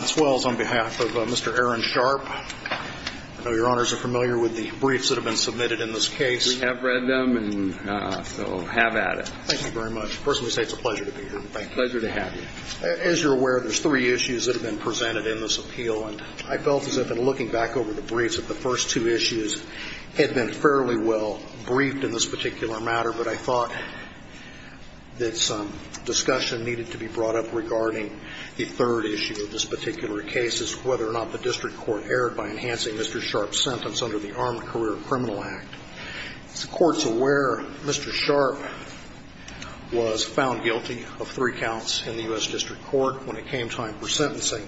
on behalf of Mr. Aaron Sharpe. I know Your Honors are familiar with the briefs that have been submitted in this case. We have read them and so have added. Thank you very much. First, let me say it's a pleasure to be here. Thank you. Pleasure to have you. As you're aware, there's three issues that have been presented in this appeal, and I felt as if in looking back over the briefs that the first two issues had been fairly well briefed in this particular matter, but I thought that some discussion needed to be brought up regarding the third issue of this particular case is whether or not the district court erred by enhancing Mr. Sharpe's sentence under the Armed Career Criminal Act. As the Court's aware, Mr. Sharpe was found guilty of three counts in the U.S. district court when it came time for sentencing.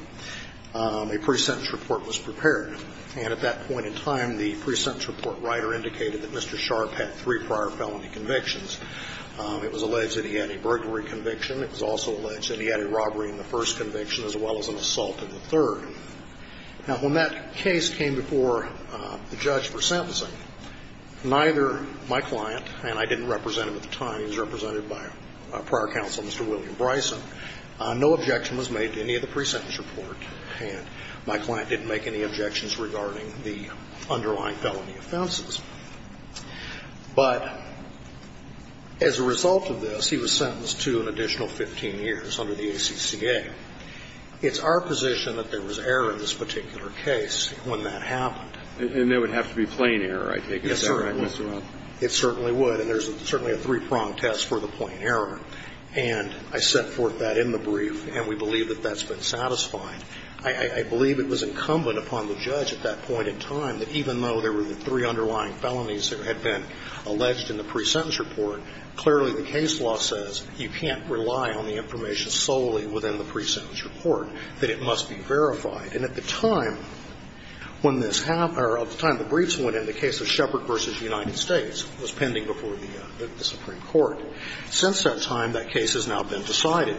A pre-sentence report was prepared, and at that point in time, the pre-sentence report writer indicated that Mr. Sharpe had three prior felony convictions. It was alleged that he had a burglary conviction. It was also alleged that he had a robbery in the first conviction as well as an assault in the third. Now, when that case came before the judge for sentencing, neither my client and I didn't represent him at the time, he was represented by a prior counsel, Mr. William Bryson, no objection was made to any of the pre-sentence report, and my client didn't make any objections regarding the underlying felony offenses. But as a result of this, he was sentenced to an additional 15 years under the ACCA. It's our position that there was error in this particular case when that happened. And there would have to be plain error, I take it? Yes, sir. It certainly would. And there's certainly a three-prong test for the plain error. And I set forth that in the brief, and we believe that that's been satisfying. I believe it was incumbent upon the judge at that point in time that even though there were the three underlying felonies that had been alleged in the pre-sentence report, clearly the case law says you can't rely on the information solely within the pre-sentence report, that it must be verified. And at the time when this happened, or at the time the briefs went in, the case of Shepard v. United States was pending before the Supreme Court. Since that time, that case has now been decided.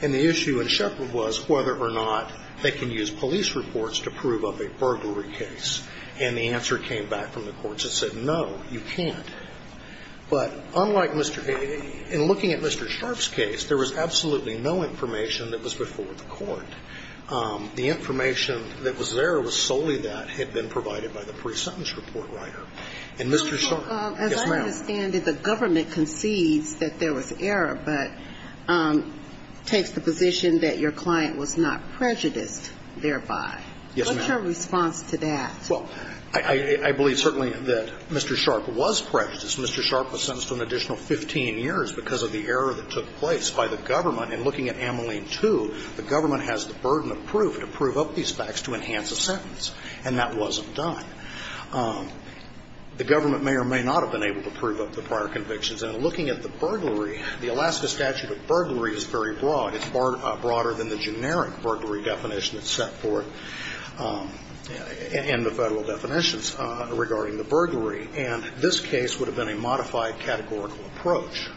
And the issue in Shepard was whether or not they can use police reports to prove of a burglary case. And the answer came back from the courts that said, no, you can't. But unlike Mr. A, in looking at Mr. Sharpe's case, there was absolutely no information that was before the court. The information that was there was solely that had been provided by the pre-sentence report writer. And Mr. Sharpe, yes, ma'am. As I understand it, the government concedes that there was error, but takes the position that your client was not prejudiced thereby. Yes, ma'am. What's your response to that? Well, I believe certainly that Mr. Sharpe was prejudiced. Mr. Sharpe was sentenced to an additional 15 years because of the error that took place by the government. And looking at Ameline 2, the government has the burden of proof to prove up these facts to enhance a sentence, and that wasn't done. The government may or may not have been able to prove up the prior convictions. And looking at the burglary, the Alaska statute of burglary is very broad. It's broader than the generic burglary definition that's set forth. And the Federal definitions regarding the burglary. And this case would have been a modified categorical approach.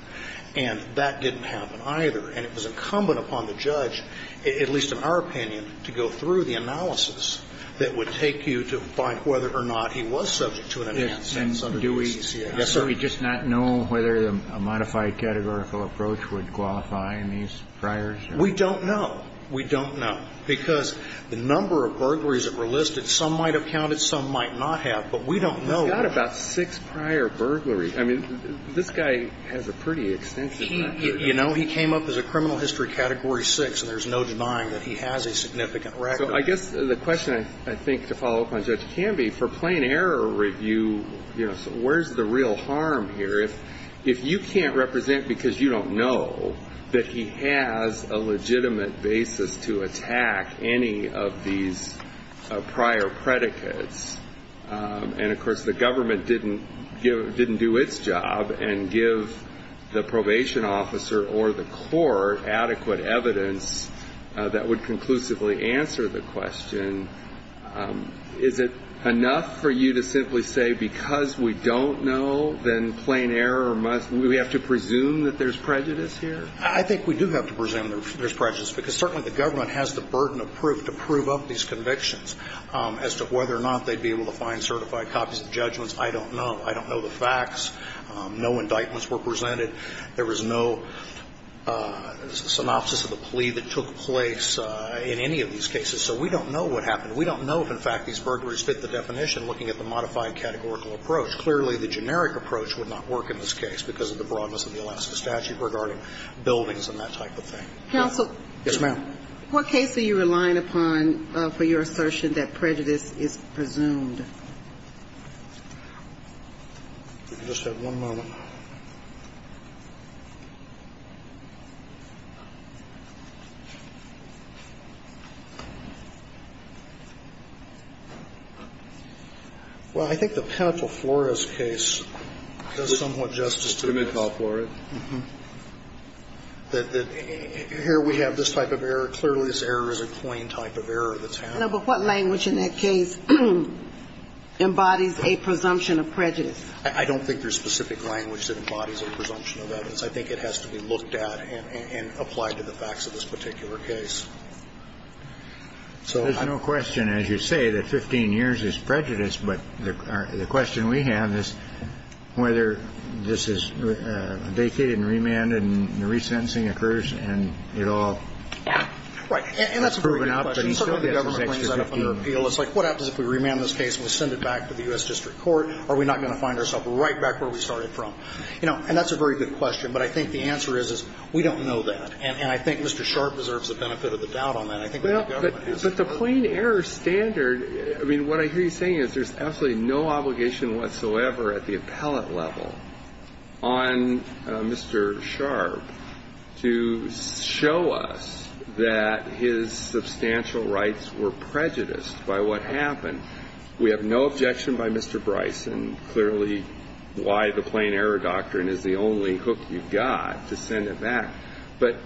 And that didn't happen either. And it was incumbent upon the judge, at least in our opinion, to go through the analysis that would take you to find whether or not he was subject to an enhanced sentence under the CCA. Yes, sir. Do we just not know whether a modified categorical approach would qualify in these priors? We don't know. We don't know. Because the number of burglaries that were listed, some might have counted, some might not have. But we don't know. We've got about six prior burglaries. I mean, this guy has a pretty extensive record. You know, he came up as a criminal history category 6, and there's no denying that he has a significant record. So I guess the question, I think, to follow up on Judge Canby, for plain error review, you know, where's the real harm here? If you can't represent because you don't know that he has a legitimate basis to attack any of these prior predicates, and, of course, the government didn't do its job and give the probation officer or the court adequate evidence that would conclusively answer the question, is it enough for you to simply say because we have to presume that there's prejudice here? I think we do have to presume there's prejudice, because certainly the government has the burden of proof to prove up these convictions as to whether or not they'd be able to find certified copies of judgments. I don't know. I don't know the facts. No indictments were presented. There was no synopsis of the plea that took place in any of these cases. So we don't know what happened. We don't know if, in fact, these burglaries fit the definition looking at the modified categorical approach. Clearly, the generic approach would not work in this case because of the broadness of the Alaska statute regarding buildings and that type of thing. Counsel. Yes, ma'am. What case are you relying upon for your assertion that prejudice is presumed? If you could just have one moment. Well, I think the Penitential Flores case does somewhat justice to that. Penitential Flores. Mm-hmm. That here we have this type of error. Clearly, this error is a plain type of error of the town. No, but what language in that case embodies a presumption of prejudice? I don't think there's specific language. I don't think there's specific language that embodies a presumption of evidence. I think it has to be looked at and applied to the facts of this particular case. There's no question, as you say, that 15 years is prejudice. But the question we have is whether this is vacated and remanded and the resentencing occurs and it all is proven out. Right. And that's a very good question. Certainly, the government brings that up under appeal. It's like, what happens if we remand this case and we send it back to the U.S. And that's a very good question. But I think the answer is, is we don't know that. And I think Mr. Sharpe deserves the benefit of the doubt on that. I think the government has. But the plain error standard, I mean, what I hear you saying is there's absolutely no obligation whatsoever at the appellate level on Mr. Sharpe to show us that his substantial rights were prejudiced by what happened. We have no objection by Mr. Bryson clearly why the plain error doctrine is the only hook you've got to send it back. But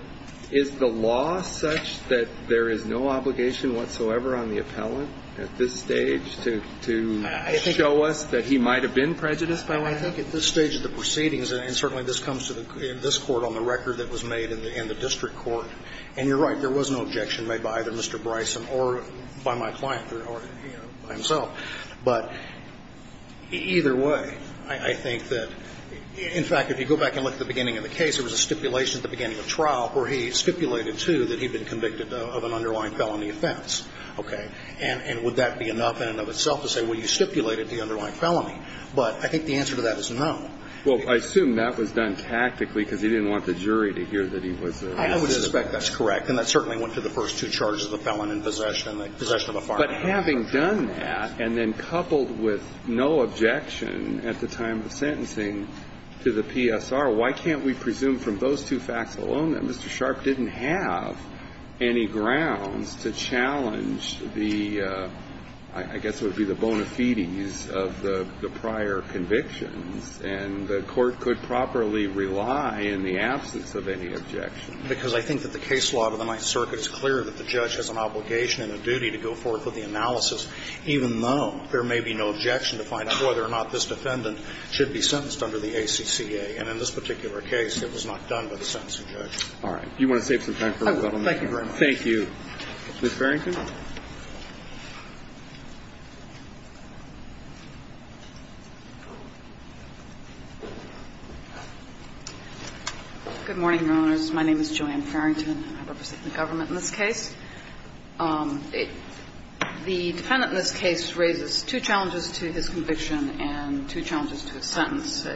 is the law such that there is no obligation whatsoever on the appellant at this stage to show us that he might have been prejudiced by what happened? I think at this stage of the proceedings, and certainly this comes to this Court on the record that was made in the district court, and you're right, there was no objection by Mr. Bryson or by my client or by himself. But either way, I think that, in fact, if you go back and look at the beginning of the case, there was a stipulation at the beginning of trial where he stipulated too that he'd been convicted of an underlying felony offense. Okay. And would that be enough in and of itself to say, well, you stipulated the underlying felony? But I think the answer to that is no. Well, I assume that was done tactically because he didn't want the jury to hear that he was. I would suspect that's correct. And that certainly went to the first two charges, the felon in possession and the possession of a firearm. But having done that and then coupled with no objection at the time of sentencing to the PSR, why can't we presume from those two facts alone that Mr. Sharp didn't have any grounds to challenge the, I guess it would be the bona fides of the prior convictions, and the Court could properly rely in the absence of any objection? Because I think that the case law of the Ninth Circuit is clear that the judge has an obligation and a duty to go forth with the analysis, even though there may be no objection to find out whether or not this defendant should be sentenced under the ACCA. And in this particular case, it was not done by the sentencing judge. All right. Do you want to save some time for the gentleman? Thank you very much. Thank you. Ms. Farrington? Good morning, Your Honors. My name is Joanne Farrington. I represent the government in this case. The defendant in this case raises two challenges to his conviction and two challenges to his sentence.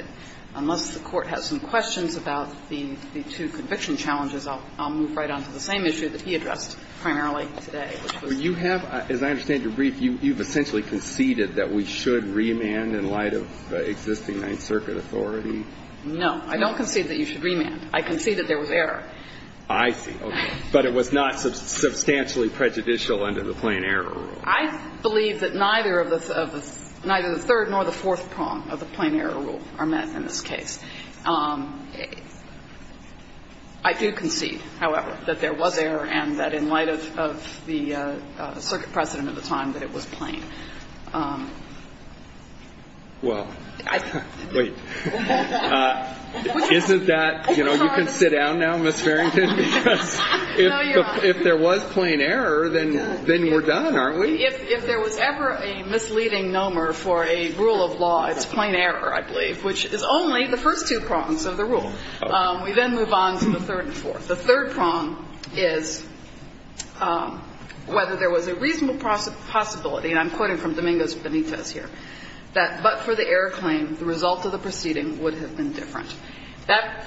Unless the Court has some questions about the two conviction challenges, I'll move right on to the same issue that he addressed primarily today, which was the case law. As I understand your brief, you've essentially conceded that we should remand in light of the existing Ninth Circuit authority? No. I don't concede that you should remand. I concede that there was error. I see. Okay. But it was not substantially prejudicial under the plain error rule. I believe that neither of the third nor the fourth prong of the plain error rule are met in this case. I do concede, however, that there was error and that in light of the circuit precedent at the time, that it was plain. Well, wait. Isn't that, you know, you can sit down now, Ms. Farrington, because if there was plain error, then we're done, aren't we? If there was ever a misleading nomer for a rule of law, it's plain error, I believe, which is only the first two prongs of the rule. We then move on to the third and fourth. The third prong is whether there was a reasonable possibility, and I'm quoting from Domingos Benitez here, that but for the error claim, the result of the proceeding would have been different.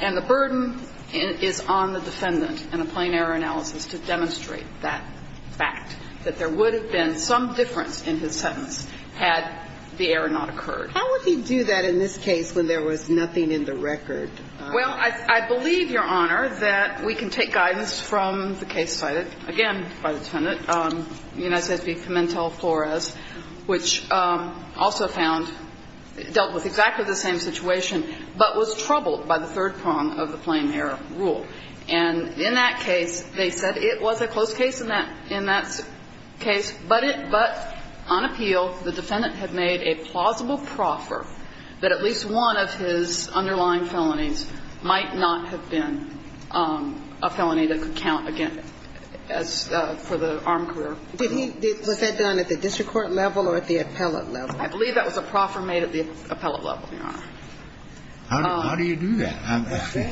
And the burden is on the defendant in a plain error analysis to demonstrate that fact, that there would have been some difference in his sentence had the error not occurred. How would he do that in this case when there was nothing in the record? Well, I believe, Your Honor, that we can take guidance from the case cited again by the defendant, United States v. Pimentel Flores, which also found, dealt with exactly the same situation, but was troubled by the third prong of the plain error rule. And in that case, they said it was a close case in that case, but on appeal, the defendant had to make a proffer that at least one of his underlying felonies might not have been a felony that could count, again, as for the armed career. Did he do that? Was that done at the district court level or at the appellate level? I believe that was a proffer made at the appellate level, Your Honor. How do you do that? I'm asking.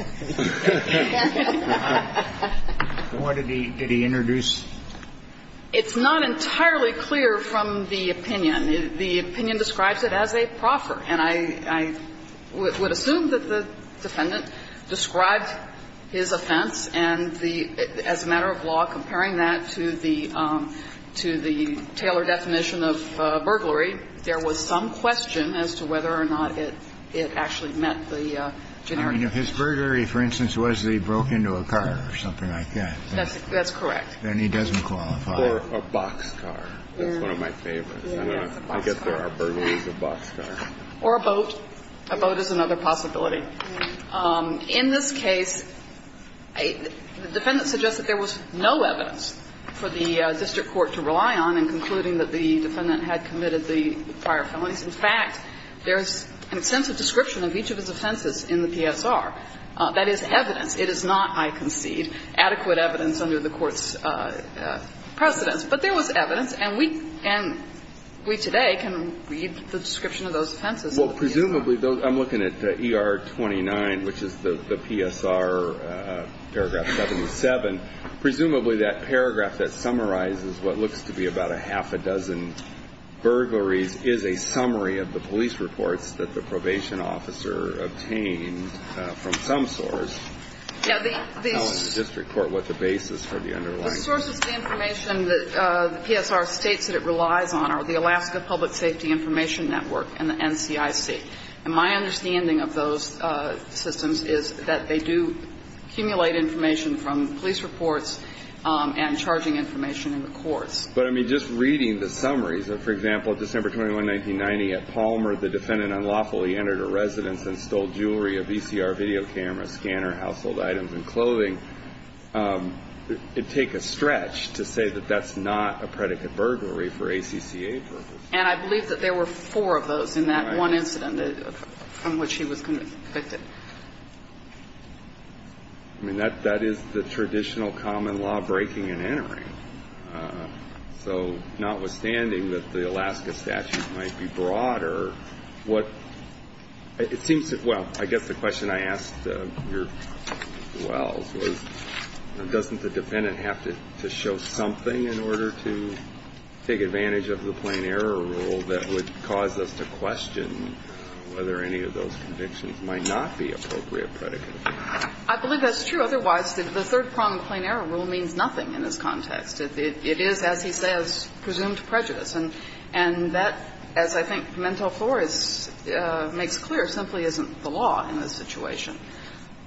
What did he introduce? It's not entirely clear from the opinion. The opinion describes it as a proffer. And I would assume that the defendant described his offense and the, as a matter of law, comparing that to the Taylor definition of burglary, there was some question as to whether or not it actually met the generic definition. His burglary, for instance, was that he broke into a car or something like that. That's correct. Then he doesn't qualify. Or a boxcar. That's one of my favorites. I guess there are burglaries of boxcars. Or a boat. A boat is another possibility. In this case, the defendant suggests that there was no evidence for the district court to rely on in concluding that the defendant had committed the prior felonies. In fact, there's an extensive description of each of his offenses in the PSR. That is evidence. It is not, I concede, adequate evidence under the Court's precedence. But there was evidence. And we today can read the description of those offenses. Well, presumably, I'm looking at the ER-29, which is the PSR paragraph 77. Presumably, that paragraph that summarizes what looks to be about a half a dozen burglaries is a summary of the police reports that the probation officer obtained from some source telling the district court what the basis for the underlying And the sources of information that the PSR states that it relies on are the Alaska Public Safety Information Network and the NCIC. And my understanding of those systems is that they do accumulate information from police reports and charging information in the courts. But, I mean, just reading the summaries of, for example, December 21, 1990, at Palmer, the defendant unlawfully entered a residence and stole jewelry, a VCR video camera, a scanner, household items, and clothing, it'd take a stretch to say that that's not a predicate burglary for ACCA purposes. And I believe that there were four of those in that one incident from which he was convicted. I mean, that is the traditional common law breaking and entering. So notwithstanding that the Alaska statute might be broader, what it seems to be Well, I guess the question I asked Your Wells was, doesn't the defendant have to show something in order to take advantage of the plain error rule that would cause us to question whether any of those convictions might not be appropriate predicates? I believe that's true. Otherwise, the third prong plain error rule means nothing in this context. It is, as he says, presumed prejudice. And that, as I think Pimentel-Flores makes clear, simply isn't the law in this situation.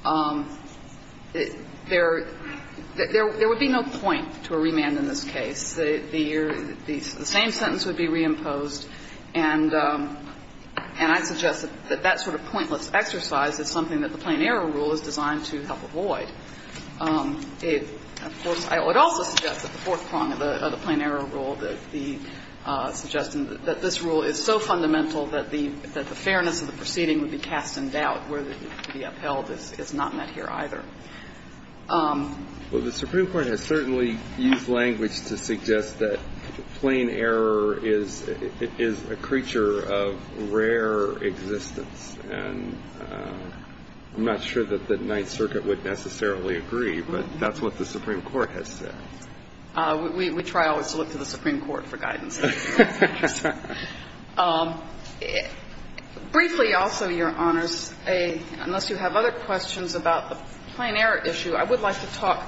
There would be no point to a remand in this case. The same sentence would be reimposed, and I suggest that that sort of pointless exercise is something that the plain error rule is designed to help avoid. Of course, I would also suggest that the fourth prong of the plain error rule, the suggestion that this rule is so fundamental that the fairness of the proceeding would be cast in doubt, where the upheld is not met here either. Well, the Supreme Court has certainly used language to suggest that plain error is a creature of rare existence. And I'm not sure that the Ninth Circuit would necessarily agree, but that's what the Supreme Court has said. We try always to look to the Supreme Court for guidance. Briefly, also, Your Honors, unless you have other questions about the plain error issue, I would like to talk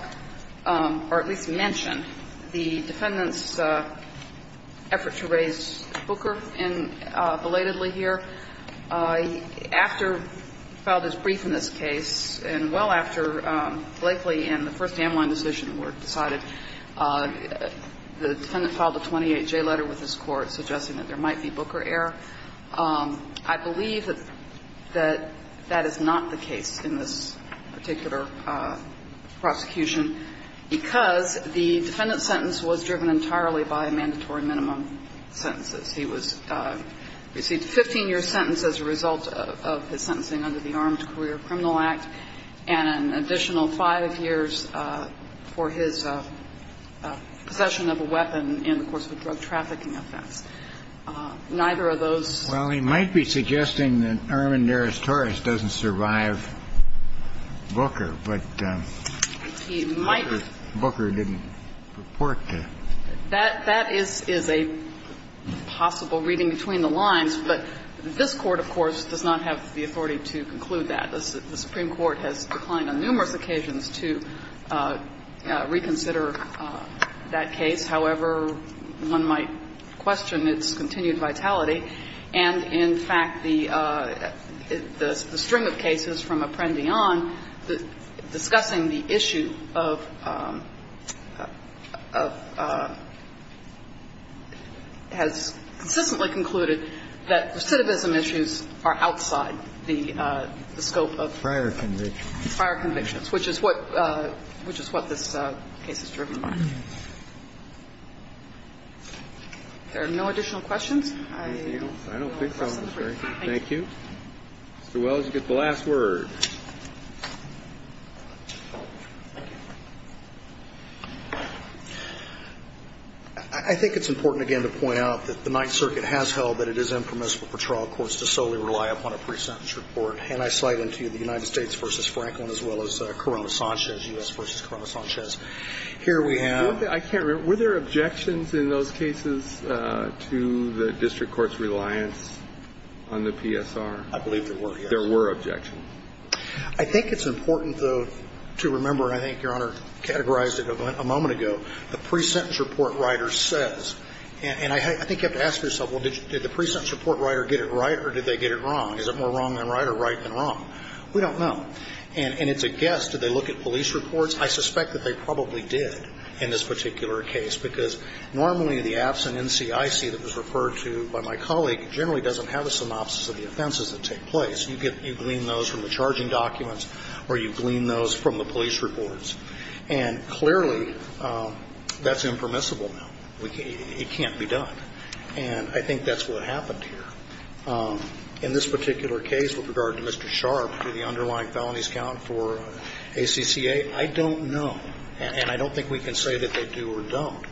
or at least mention the defendant's effort to raise Booker belatedly here. After he filed his brief in this case, and well after Blakely and the first Hamline decision were decided, the defendant filed a 28-J letter with his court suggesting that there might be Booker error. I believe that that is not the case in this particular prosecution because the defendant's sentence was driven entirely by mandatory minimum sentences. He was received a 15-year sentence as a result of his sentencing under the Armed Career Criminal Act and an additional 5 years for his possession of a weapon in the course of a drug-trafficking offense. Neither of those. Well, he might be suggesting that Irvin Daris Torres doesn't survive Booker, but he might. Booker didn't report to him. That is a possible reading between the lines, but this Court, of course, does not have the authority to conclude that. The Supreme Court has declined on numerous occasions to reconsider that case. However, one might question its continued vitality. And in fact, the string of cases from Apprendi on, discussing the issue of, has consistently concluded that recidivism issues are outside the scope of prior convictions. Which is what this case is driven by. If there are no additional questions, I will close the briefing. Thank you. Mr. Wells, you get the last word. I think it's important, again, to point out that the Ninth Circuit has held that it is impermissible for trial courts to solely rely upon a pre-sentence report. And I slide into the United States v. Franklin, as well as Corona-Sanchez, U.S. v. Corona-Sanchez. Here we have the court's ruling. Were there objections in those cases to the district court's reliance on the PSR? I believe there were, yes. There were objections. I think it's important, though, to remember, and I think Your Honor categorized it a moment ago, the pre-sentence report writer says, and I think you have to ask yourself, well, did the pre-sentence report writer get it right or did they get it wrong? Is it more wrong than right or right than wrong? We don't know. And it's a guess. Did they look at police reports? I suspect that they probably did in this particular case, because normally the absent NCIC that was referred to by my colleague generally doesn't have a synopsis of the offenses that take place. You glean those from the charging documents or you glean those from the police reports. And clearly, that's impermissible now. It can't be done. And I think that's what happened here. In this particular case, with regard to Mr. Sharp for the underlying felonies count for ACCA, I don't know. And I don't think we can say that they do or don't,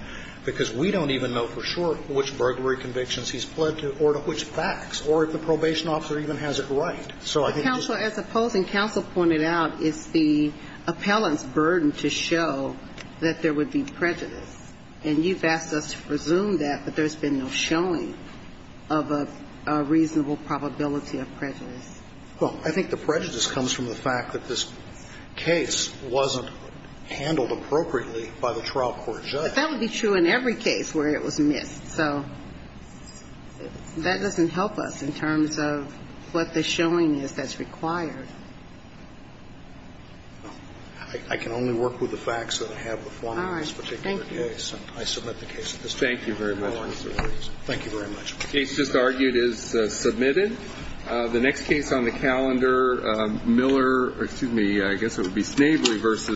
because we don't even know for sure which burglary convictions he's pled to or to which facts, or if the probation officer even has it right. So I think it's just the case. As opposing counsel pointed out, it's the appellant's burden to show that there would be prejudice. And you've asked us to presume that, but there's been no showing of a reasonable probability of prejudice. Well, I think the prejudice comes from the fact that this case wasn't handled appropriately by the trial court judge. But that would be true in every case where it was missed. So that doesn't help us in terms of what the showing is that's required. I can only work with the facts that I have before me in this particular case. I submit the case at this time. Thank you very much. Thank you very much. The case just argued is submitted. The next case on the calendar, Miller or, excuse me, I guess it would be Snavery v.